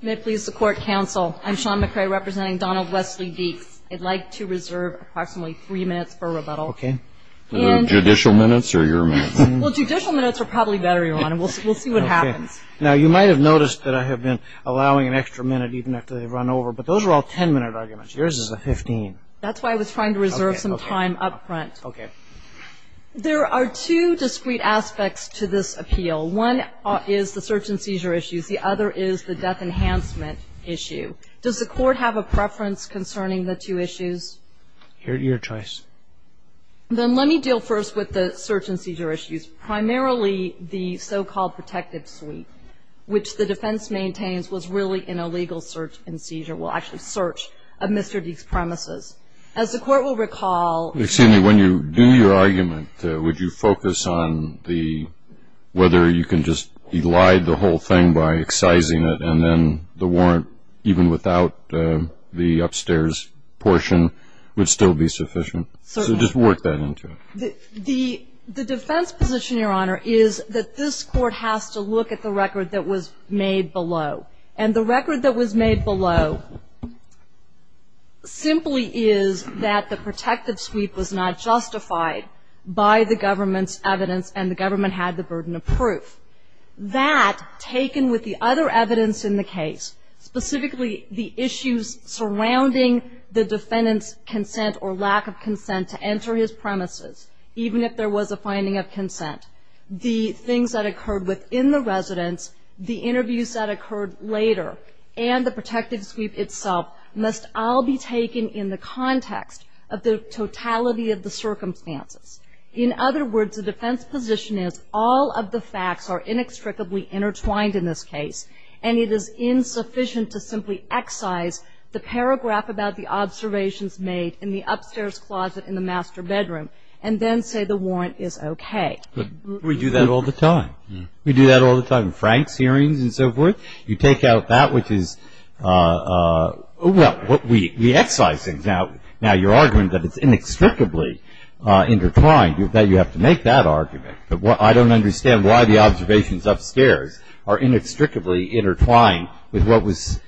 May it please the court, counsel. I'm Shawn McCray representing Donald Wesley Deeks. I'd like to reserve approximately three minutes for rebuttal. Okay. Judicial minutes or your minutes? Well, judicial minutes are probably better, Your Honor. We'll see what happens. Now, you might have noticed that I have been allowing an extra minute even after they've run over, but those are all ten-minute arguments. Yours is a fifteen. That's why I was trying to reserve some time up front. Okay. There are two discrete aspects to this appeal. One is the search and seizure issues. The other is the death enhancement issue. Does the court have a preference concerning the two issues? Your choice. Then let me deal first with the search and seizure issues, primarily the so-called protective suite, which the defense maintains was really an illegal search and seizure, well, actually search of Mr. Deeks' premises. As the court will recall – Excuse me. When you do your argument, would you focus on whether you can just elide the whole thing by excising it and then the warrant, even without the upstairs portion, would still be sufficient? Certainly. So just work that into it. The defense position, Your Honor, is that this court has to look at the record that was made below. And the record that was made below simply is that the protective suite was not justified by the government's evidence and the government had the burden of proof. That, taken with the other evidence in the case, specifically the issues surrounding the defendant's consent or lack of consent to enter his premises, even if there was a finding of consent, the things that occurred within the residence, the interviews that occurred later, and the protective suite itself must all be taken in the context of the totality of the circumstances. In other words, the defense position is all of the facts are inextricably intertwined in this case and it is insufficient to simply excise the paragraph about the observations made in the upstairs closet in the master bedroom and then say the warrant is okay. We do that all the time. We do that all the time. Frank's hearings and so forth. You take out that which is what we excise. Now, your argument that it's inextricably intertwined, you have to make that argument. But I don't understand why the observations upstairs are inextricably intertwined with what was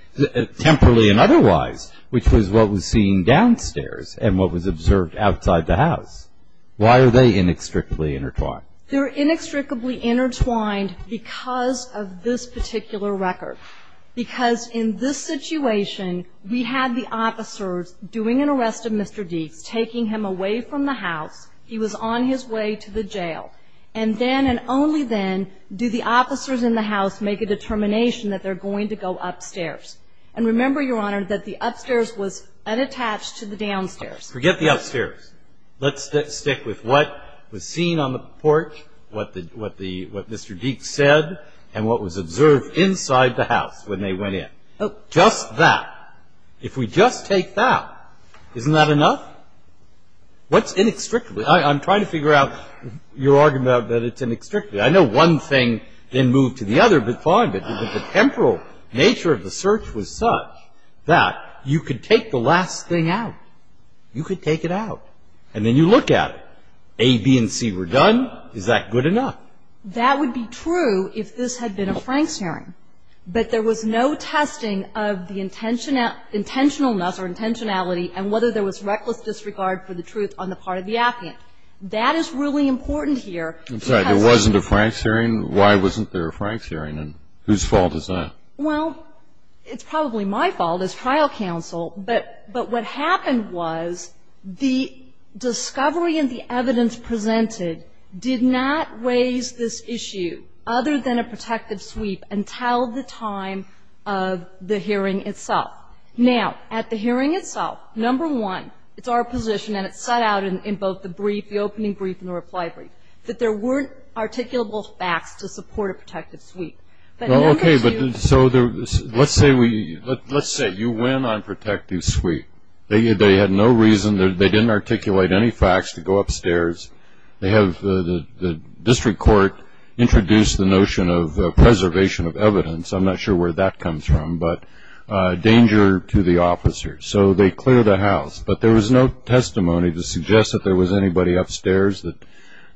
temporally and otherwise, which was what was seen downstairs and what was observed outside the house. Why are they inextricably intertwined? They're inextricably intertwined because of this particular record, because in this situation we had the officers doing an arrest of Mr. Deeks, taking him away from the house. He was on his way to the jail. And then and only then do the officers in the house make a determination that they're going to go upstairs. And remember, Your Honor, that the upstairs was unattached to the downstairs. Forget the upstairs. Let's stick with what was seen on the porch, what Mr. Deeks said, and what was observed inside the house when they went in. Just that. If we just take that, isn't that enough? What's inextricably? I'm trying to figure out your argument that it's inextricably. I know one thing then moved to the other, but the temporal nature of the search was such that you could take the last thing out. You could take it out. And then you look at it. A, B, and C were done. Is that good enough? That would be true if this had been a Franks hearing. But there was no testing of the intentionalness or intentionality and whether there was reckless disregard for the truth on the part of the applicant. That is really important here. I'm sorry. There wasn't a Franks hearing? Why wasn't there a Franks hearing? And whose fault is that? Well, it's probably my fault as trial counsel. But what happened was the discovery and the evidence presented did not raise this issue, other than a protective sweep, until the time of the hearing itself. Now, at the hearing itself, number one, it's our position, and it's set out in both the brief, the opening brief, and the reply brief, that there weren't articulable facts to support a protective sweep. Okay. So let's say you went on protective sweep. They had no reason, they didn't articulate any facts to go upstairs. They have the district court introduce the notion of preservation of evidence. I'm not sure where that comes from, but danger to the officers. So they clear the house. But there was no testimony to suggest that there was anybody upstairs that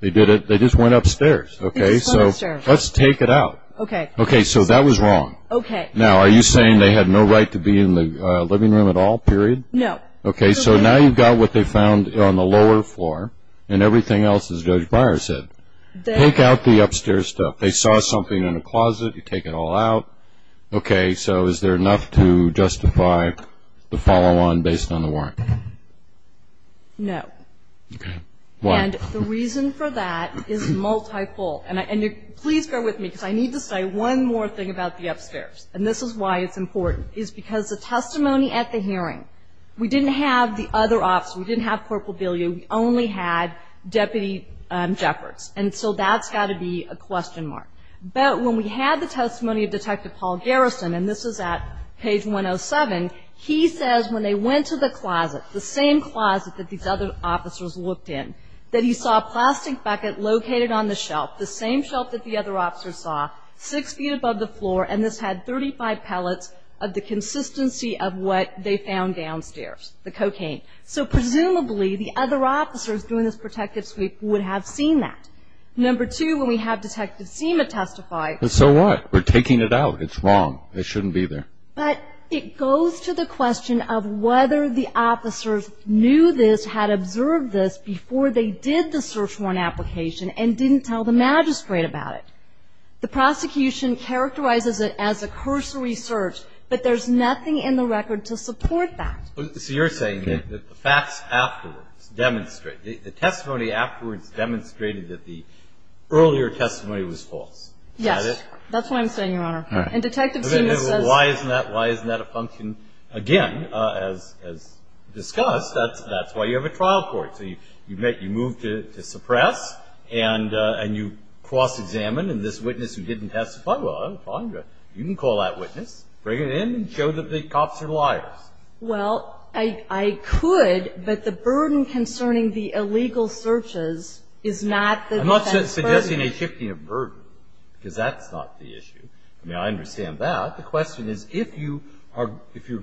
they did it. They just went upstairs. Okay. So let's take it out. Okay. Okay. So that was wrong. Okay. Now, are you saying they had no right to be in the living room at all, period? No. Okay. So now you've got what they found on the lower floor and everything else, as Judge Beyer said. Take out the upstairs stuff. They saw something in the closet. You take it all out. Okay. So is there enough to justify the follow-on based on the warrant? No. Okay. Why? And the reason for that is multiple. And please bear with me because I need to say one more thing about the upstairs, and this is why it's important, is because the testimony at the hearing, we didn't have the other officers. We didn't have Corporal Billiard. We only had Deputy Jeffords. And so that's got to be a question mark. But when we had the testimony of Detective Paul Garrison, and this is at page 107, he says when they went to the closet, the same closet that these other officers looked in, that he saw a plastic bucket located on the shelf, the same shelf that the other officers saw, six feet above the floor, and this had 35 pellets of the consistency of what they found downstairs, the cocaine. So presumably the other officers doing this protective sweep would have seen that. Number two, when we have Detective Seema testify. So what? We're taking it out. It's wrong. It shouldn't be there. But it goes to the question of whether the officers knew this, had observed this before they did the search warrant application, and didn't tell the magistrate about it. The prosecution characterizes it as a cursory search, but there's nothing in the record to support that. So you're saying that the facts afterwards demonstrate, the testimony afterwards demonstrated that the earlier testimony was false. Is that it? That's what I'm saying, Your Honor. And Detective Seema says. Why isn't that a function? Again, as discussed, that's why you have a trial court. So you move to suppress, and you cross-examine, and this witness who didn't testify, well, that's fine. You can call that witness, bring it in, and show that the cops are liars. Well, I could, but the burden concerning the illegal searches is not the defense's burden. I'm not suggesting a shifting of burden, because that's not the issue. I mean, I understand that. The question is if you are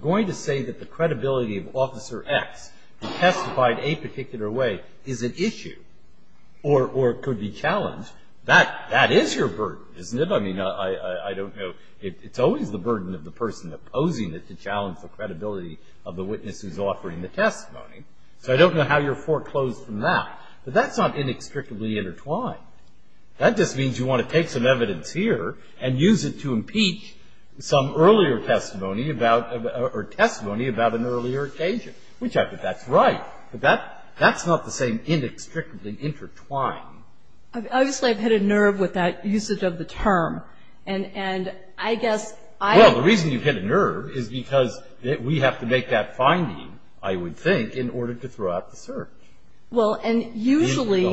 going to say that the credibility of Officer X who testified a particular way is an issue or could be challenged, that is your burden, isn't it? I mean, I don't know. It's always the burden of the person opposing it to challenge the credibility of the witness who's offering the testimony. So I don't know how you're foreclosed from that. But that's not inextricably intertwined. That just means you want to take some evidence here and use it to impeach some earlier testimony about, or testimony about an earlier occasion, which I think that's right. But that's not the same inextricably intertwined. Obviously, I've hit a nerve with that usage of the term. And I guess I have. Well, the reason you've hit a nerve is because we have to make that finding, I would think, in order to throw out the search. Well, and usually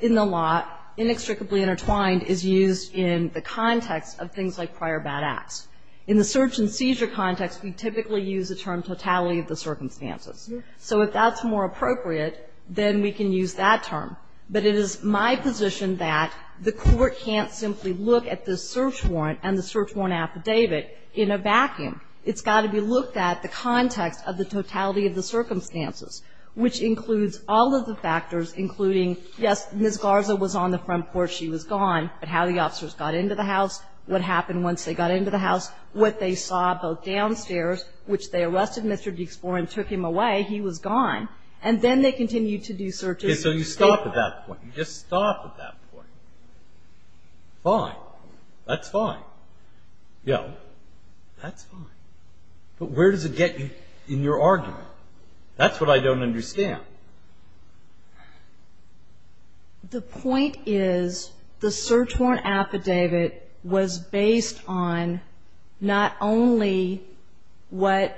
in the law, inextricably intertwined is used in the context of things like prior bad acts. In the search and seizure context, we typically use the term totality of the circumstances. So if that's more appropriate, then we can use that term. But it is my position that the Court can't simply look at the search warrant and the search warrant affidavit in a vacuum. It's got to be looked at the context of the totality of the circumstances, which includes all of the factors, including, yes, Ms. Garza was on the front porch. She was gone. But how the officers got into the house, what happened once they got into the house, what they saw both downstairs, which they arrested Mr. Dexborn and took him away. He was gone. And then they continued to do searches. So you stop at that point. You just stop at that point. Fine. That's fine. Yeah. That's fine. But where does it get you in your argument? That's what I don't understand. The point is the search warrant affidavit was based on not only what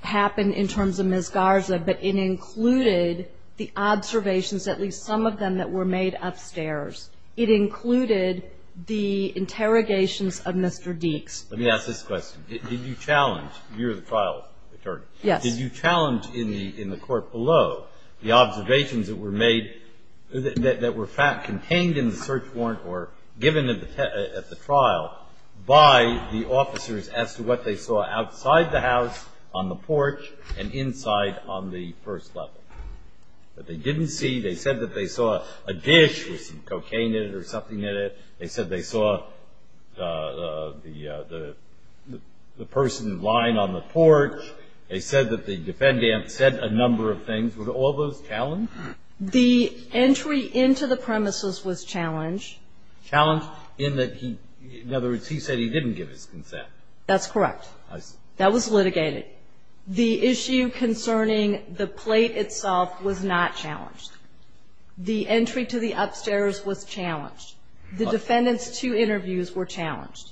happened in terms of Ms. Garza, but it included the observations, at least some of them that were made upstairs. It included the interrogations of Mr. Dex. Let me ask this question. Did you challenge? You're the trial attorney. Yes. Did you challenge in the court below the observations that were made that were contained in the search warrant or given at the trial by the officers as to what they saw outside the house, on the porch, and inside on the first level? That they didn't see, they said that they saw a dish with some cocaine in it or something in it. They said they saw the person lying on the porch. They said that the defendant said a number of things. Were all those challenged? The entry into the premises was challenged. Challenged in that he, in other words, he said he didn't give his consent. That's correct. I see. That was litigated. The issue concerning the plate itself was not challenged. The entry to the upstairs was challenged. The defendant's two interviews were challenged.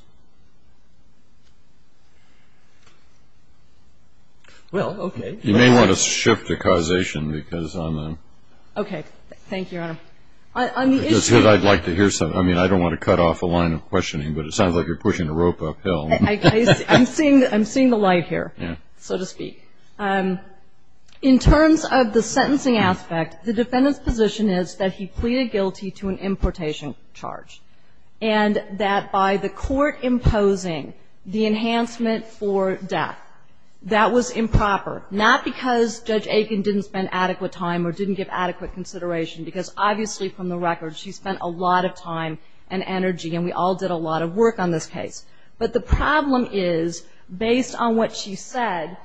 Well, okay. You may want to shift to causation because I'm a ---- Okay. Thank you, Your Honor. On the issue ---- Because I'd like to hear something. I mean, I don't want to cut off a line of questioning, but it sounds like you're pushing a rope uphill. I'm seeing the light here, so to speak. In terms of the sentencing aspect, the defendant's position is that he pleaded guilty to an importation. And that by the court imposing the enhancement for death, that was improper. Not because Judge Aiken didn't spend adequate time or didn't give adequate consideration, because obviously from the record, she spent a lot of time and energy, and we all did a lot of work on this case. But the problem is, based on what she said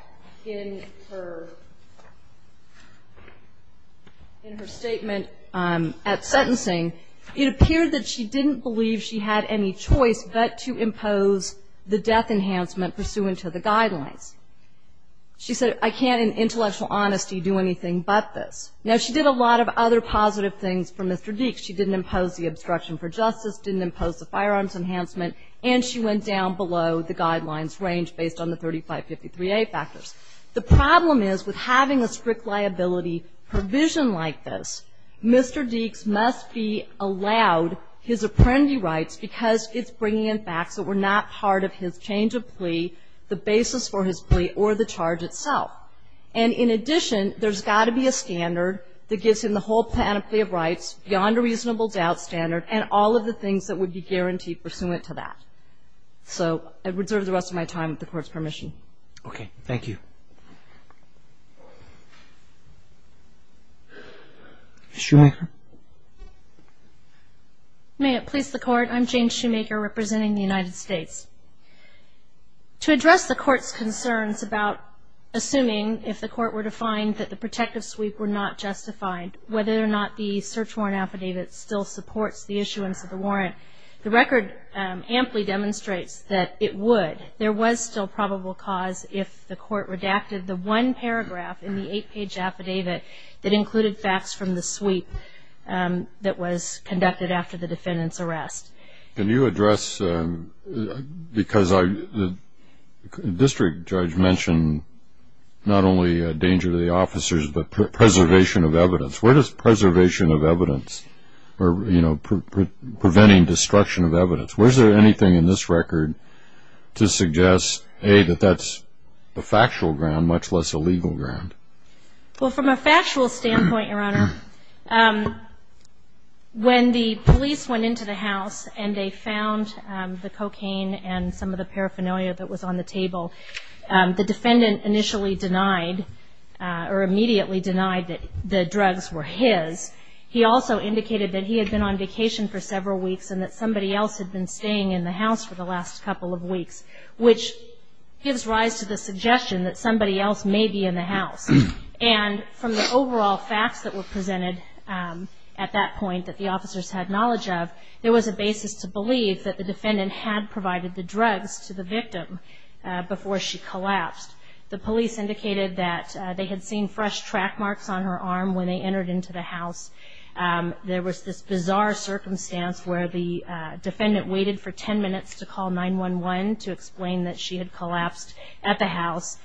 in her statement at sentencing, it appeared that she didn't believe she had any choice but to impose the death enhancement pursuant to the guidelines. She said, I can't in intellectual honesty do anything but this. Now, she did a lot of other positive things for Mr. Deeks. She didn't impose the obstruction for justice, didn't impose the firearms enhancement, and she went down below the guidelines range based on the 3553A factors. The problem is, with having a strict liability provision like this, Mr. Deeks must be allowed his apprendee rights because it's bringing in facts that were not part of his change of plea, the basis for his plea, or the charge itself. And in addition, there's got to be a standard that gives him the whole panoply of rights, beyond a reasonable doubt standard, and all of the things that would be guaranteed pursuant to that. So I reserve the rest of my time with the Court's permission. Thank you. Okay, thank you. Ms. Shoemaker? May it please the Court, I'm Jane Shoemaker, representing the United States. To address the Court's concerns about assuming, if the Court were to find that the protective sweep were not justified, whether or not the search warrant affidavit still supports the issuance of the warrant, the record amply demonstrates that it would. There was still probable cause if the Court redacted the one paragraph in the eight-page affidavit that included facts from the sweep that was conducted after the defendant's arrest. Can you address, because the district judge mentioned not only a danger to the officers, but preservation of evidence. Where does preservation of evidence, or preventing destruction of evidence, where is there anything in this record to suggest, A, that that's a factual ground, much less a legal ground? Well, from a factual standpoint, Your Honor, when the police went into the house and they found the cocaine and some of the paraphernalia that was on the table, the defendant initially denied, or immediately denied that the drugs were his. He also indicated that he had been on vacation for several weeks and that somebody else had been staying in the house for the last couple of weeks, which gives rise to the suggestion that somebody else may be in the house. And from the overall facts that were presented at that point that the officers had knowledge of, there was a basis to believe that the defendant had provided the drugs to the victim before she collapsed. The police indicated that they had seen fresh track marks on her arm when they entered into the house. There was this bizarre circumstance where the defendant waited for ten minutes to call 911 to explain that she had collapsed at the house.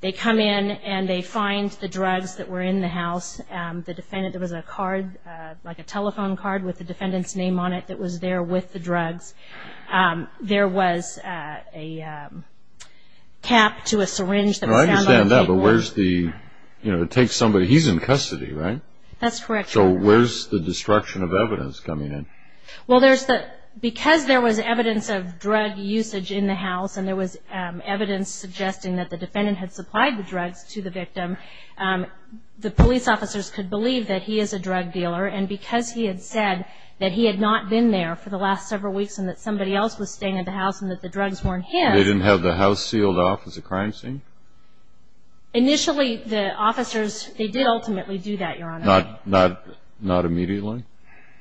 They come in and they find the drugs that were in the house. There was a card, like a telephone card with the defendant's name on it that was there with the drugs. There was a cap to a syringe that was found on the table. I understand that, but where's the, you know, it takes somebody, he's in custody, right? That's correct, Your Honor. So where's the destruction of evidence coming in? Well, because there was evidence of drug usage in the house and there was evidence suggesting that the defendant had supplied the drugs to the victim, the police officers could believe that he is a drug dealer, and because he had said that he had not been there for the last several weeks and that somebody else was staying at the house and that the drugs weren't his. They didn't have the house sealed off as a crime scene? Initially, the officers, they did ultimately do that, Your Honor. Not immediately?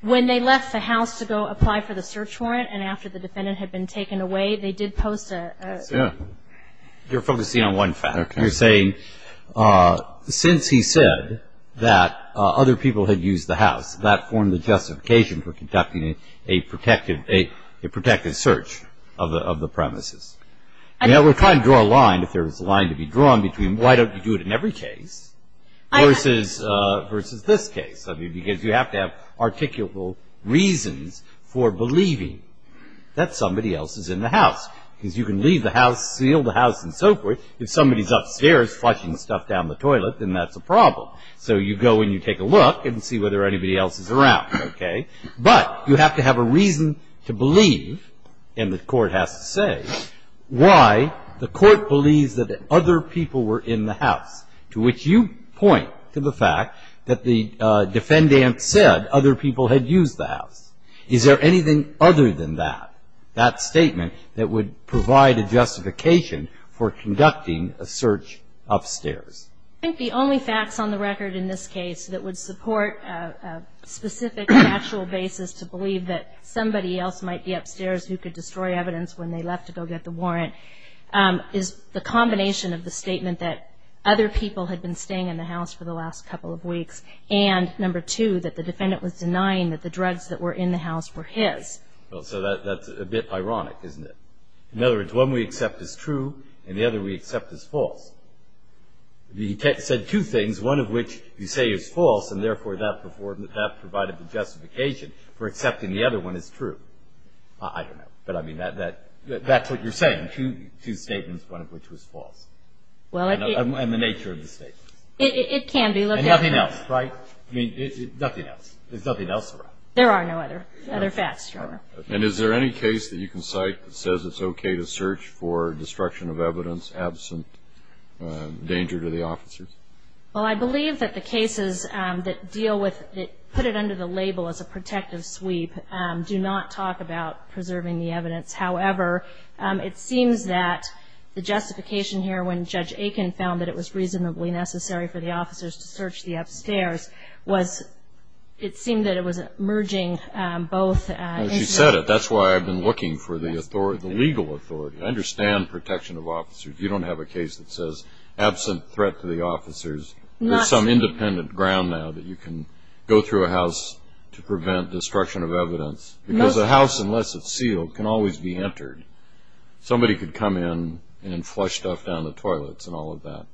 When they left the house to go apply for the search warrant and after the defendant had been taken away, they did post a statement. You're focusing on one fact. You're saying since he said that other people had used the house, that formed the justification for conducting a protective search of the premises. We're trying to draw a line, if there's a line to be drawn, between why don't you do it in every case versus this case, because you have to have articulable reasons for believing that somebody else is in the house because you can leave the house, seal the house and so forth. If somebody's upstairs flushing stuff down the toilet, then that's a problem. So you go and you take a look and see whether anybody else is around, okay? But you have to have a reason to believe, and the court has to say, why the court believes that other people were in the house, to which you point to the fact that the defendant said other people had used the house. Is there anything other than that, that statement, that would provide a justification for conducting a search upstairs? I think the only facts on the record in this case that would support a specific factual basis to believe that somebody else might be upstairs who could destroy evidence when they left to go get the warrant is the combination of the statement that other people had been staying in the house for the last couple of weeks and, number two, that the defendant was denying that the drugs that were in the house were his. So that's a bit ironic, isn't it? In other words, one we accept is true and the other we accept is false. He said two things, one of which you say is false and therefore that provided the justification for accepting the other one is true. I don't know, but that's what you're saying, two statements, one of which was false. And the nature of the statements. It can be looked at. And nothing else, right? Nothing else. There's nothing else around. There are no other facts, Your Honor. And is there any case that you can cite that says it's okay to search for destruction of evidence absent danger to the officers? Well, I believe that the cases that deal with it, put it under the label as a protective sweep, do not talk about preserving the evidence. However, it seems that the justification here when Judge Aiken found that it was reasonably necessary for the officers to search the upstairs was it seemed that it was merging both. She said it. That's why I've been looking for the legal authority. I understand protection of officers. You don't have a case that says absent threat to the officers. There's some independent ground now that you can go through a house to prevent destruction of evidence. Because a house, unless it's sealed, can always be entered. Somebody could come in and flush stuff down the toilets and all of that.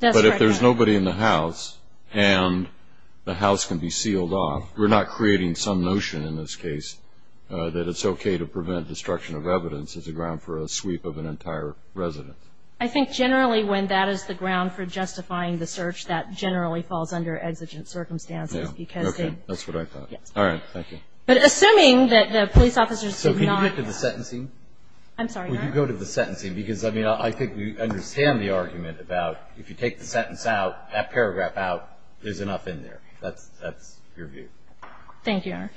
But if there's nobody in the house and the house can be sealed off, we're not creating some notion in this case that it's okay to prevent destruction of evidence as a ground for a sweep of an entire residence. I think generally when that is the ground for justifying the search, that generally falls under exigent circumstances. Okay. That's what I thought. All right. Thank you. But assuming that the police officers did not. So can you get to the sentencing? I'm sorry. Will you go to the sentencing? Because, I mean, I think we understand the argument about if you take the sentence out, that paragraph out, there's enough in there. That's your view. Thank you, Your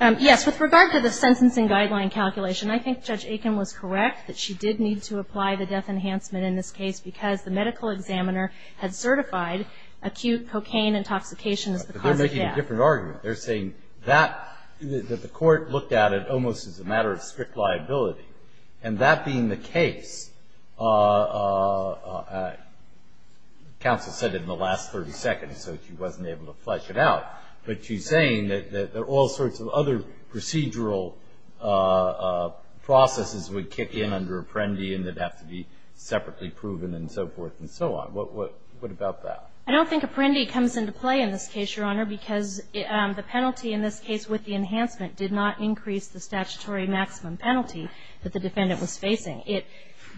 Honor. Yes, with regard to the sentencing guideline calculation, I think Judge Aiken was correct that she did need to apply the death enhancement in this case because the medical examiner had certified acute cocaine intoxication as the cause of death. I think that's a different argument. They're saying that the court looked at it almost as a matter of strict liability. And that being the case, counsel said it in the last 30 seconds, so she wasn't able to flesh it out. But she's saying that all sorts of other procedural processes would kick in under Apprendi and it would have to be separately proven and so forth and so on. What about that? I don't think Apprendi comes into play in this case, Your Honor, because the penalty in this case with the enhancement did not increase the statutory maximum penalty that the defendant was facing.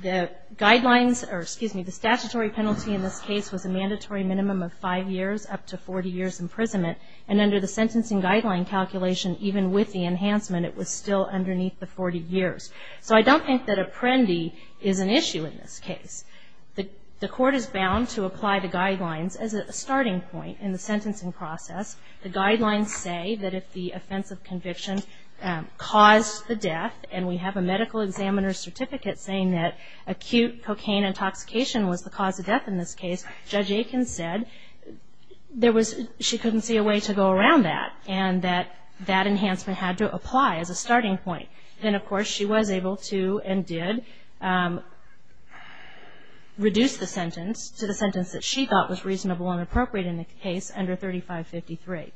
The guidelines or, excuse me, the statutory penalty in this case was a mandatory minimum of five years up to 40 years imprisonment. And under the sentencing guideline calculation, even with the enhancement, it was still underneath the 40 years. So I don't think that Apprendi is an issue in this case. The court is bound to apply the guidelines as a starting point in the sentencing process. The guidelines say that if the offense of conviction caused the death, and we have a medical examiner's certificate saying that acute cocaine intoxication was the cause of death in this case, Judge Aiken said she couldn't see a way to go around that and that that enhancement had to apply as a starting point. Then, of course, she was able to and did reduce the sentence to the sentence that she thought was reasonable and appropriate in the case under 3553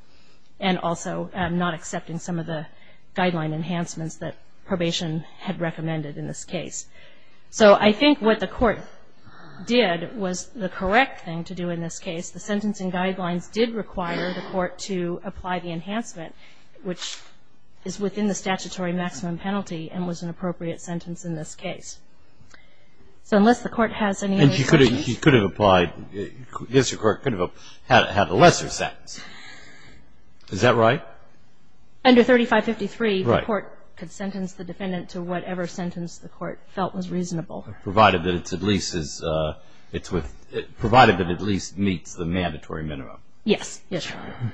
and also not accepting some of the guideline enhancements that probation had recommended in this case. So I think what the court did was the correct thing to do in this case. The sentencing guidelines did require the court to apply the enhancement, which is within the statutory maximum penalty and was an appropriate sentence in this case. So unless the court has any other questions. And she could have applied, yes, the court could have had a lesser sentence. Is that right? Under 3553, the court could sentence the defendant to whatever sentence the court felt was reasonable. Provided that it at least meets the mandatory minimum. Yes, yes, Your Honor.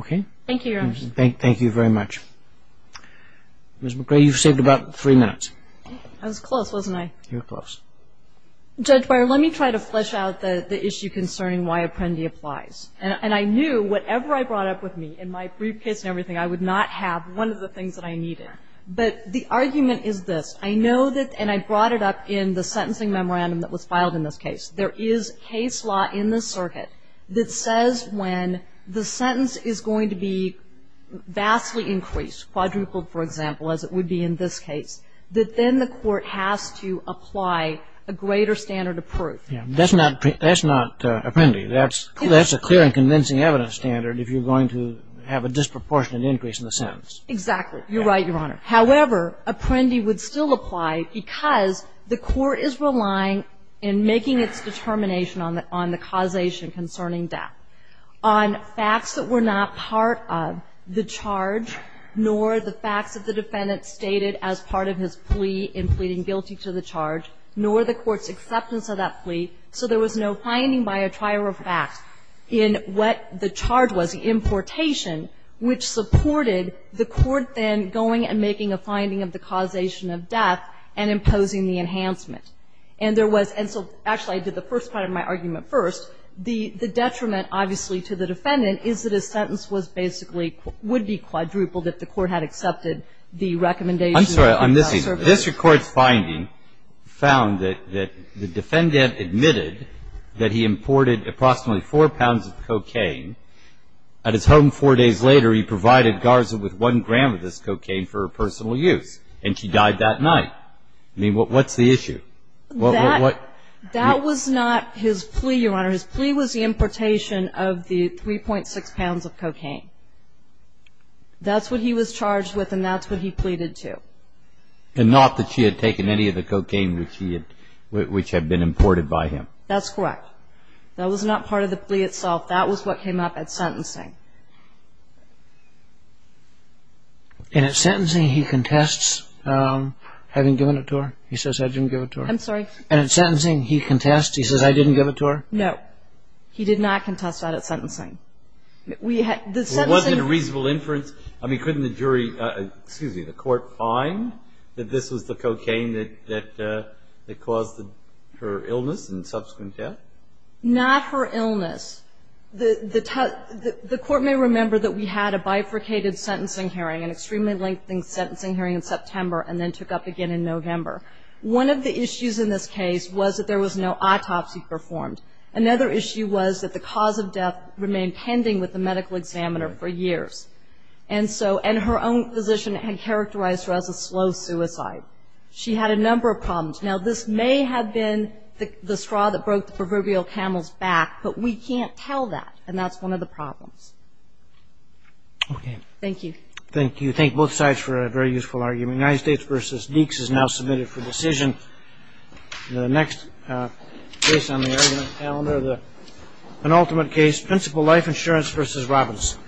Okay. Thank you, Your Honor. Thank you very much. Ms. McRae, you've saved about three minutes. I was close, wasn't I? You were close. Judge Beyer, let me try to flesh out the issue concerning why Apprendi applies. And I knew whatever I brought up with me in my briefcase and everything, I would not have one of the things that I needed. But the argument is this. I know that and I brought it up in the sentencing memorandum that was filed in this case. There is case law in the circuit that says when the sentence is going to be vastly increased, quadrupled, for example, as it would be in this case, that then the court has to apply a greater standard of proof. Yes. That's not Apprendi. That's a clear and convincing evidence standard if you're going to have a disproportionate increase in the sentence. Exactly. You're right, Your Honor. However, Apprendi would still apply because the court is relying in making its determination on the causation concerning death on facts that were not part of the charge, nor the facts that the defendant stated as part of his plea in pleading guilty to the charge, nor the court's acceptance of that plea. So there was no finding by a trier of facts in what the charge was, the importation, which supported the court then going and making a finding of the causation of death and imposing the enhancement. And there was – and so, actually, I did the first part of my argument first. The detriment, obviously, to the defendant is that his sentence was basically – would be quadrupled if the court had accepted the recommendation. I'm sorry. I'm missing. This Court's finding found that the defendant admitted that he imported approximately four pounds of cocaine. At his home four days later, he provided Garza with one gram of this cocaine for her personal use, and she died that night. I mean, what's the issue? That was not his plea, Your Honor. His plea was the importation of the 3.6 pounds of cocaine. That's what he was charged with, and that's what he pleaded to. And not that she had taken any of the cocaine which had been imported by him. That's correct. That was not part of the plea itself. That was what came up at sentencing. And at sentencing, he contests having given it to her? He says, I didn't give it to her. I'm sorry. And at sentencing, he contests? He says, I didn't give it to her? No. He did not contest that at sentencing. It wasn't a reasonable inference. I mean, couldn't the jury – excuse me, the court find that this was the cocaine that caused her illness and subsequent death? Not her illness. The court may remember that we had a bifurcated sentencing hearing, an extremely lengthy sentencing hearing in September and then took up again in November. One of the issues in this case was that there was no autopsy performed. Another issue was that the cause of death remained pending with the medical examiner for years. And her own physician had characterized her as a slow suicide. She had a number of problems. Now, this may have been the straw that broke the proverbial camel's back, but we can't tell that, and that's one of the problems. Okay. Thank you. Thank you. Thank both sides for a very useful argument. United States v. Deeks is now submitted for decision. The next case on the argument calendar, the penultimate case, Principal Life Insurance v. Robbins.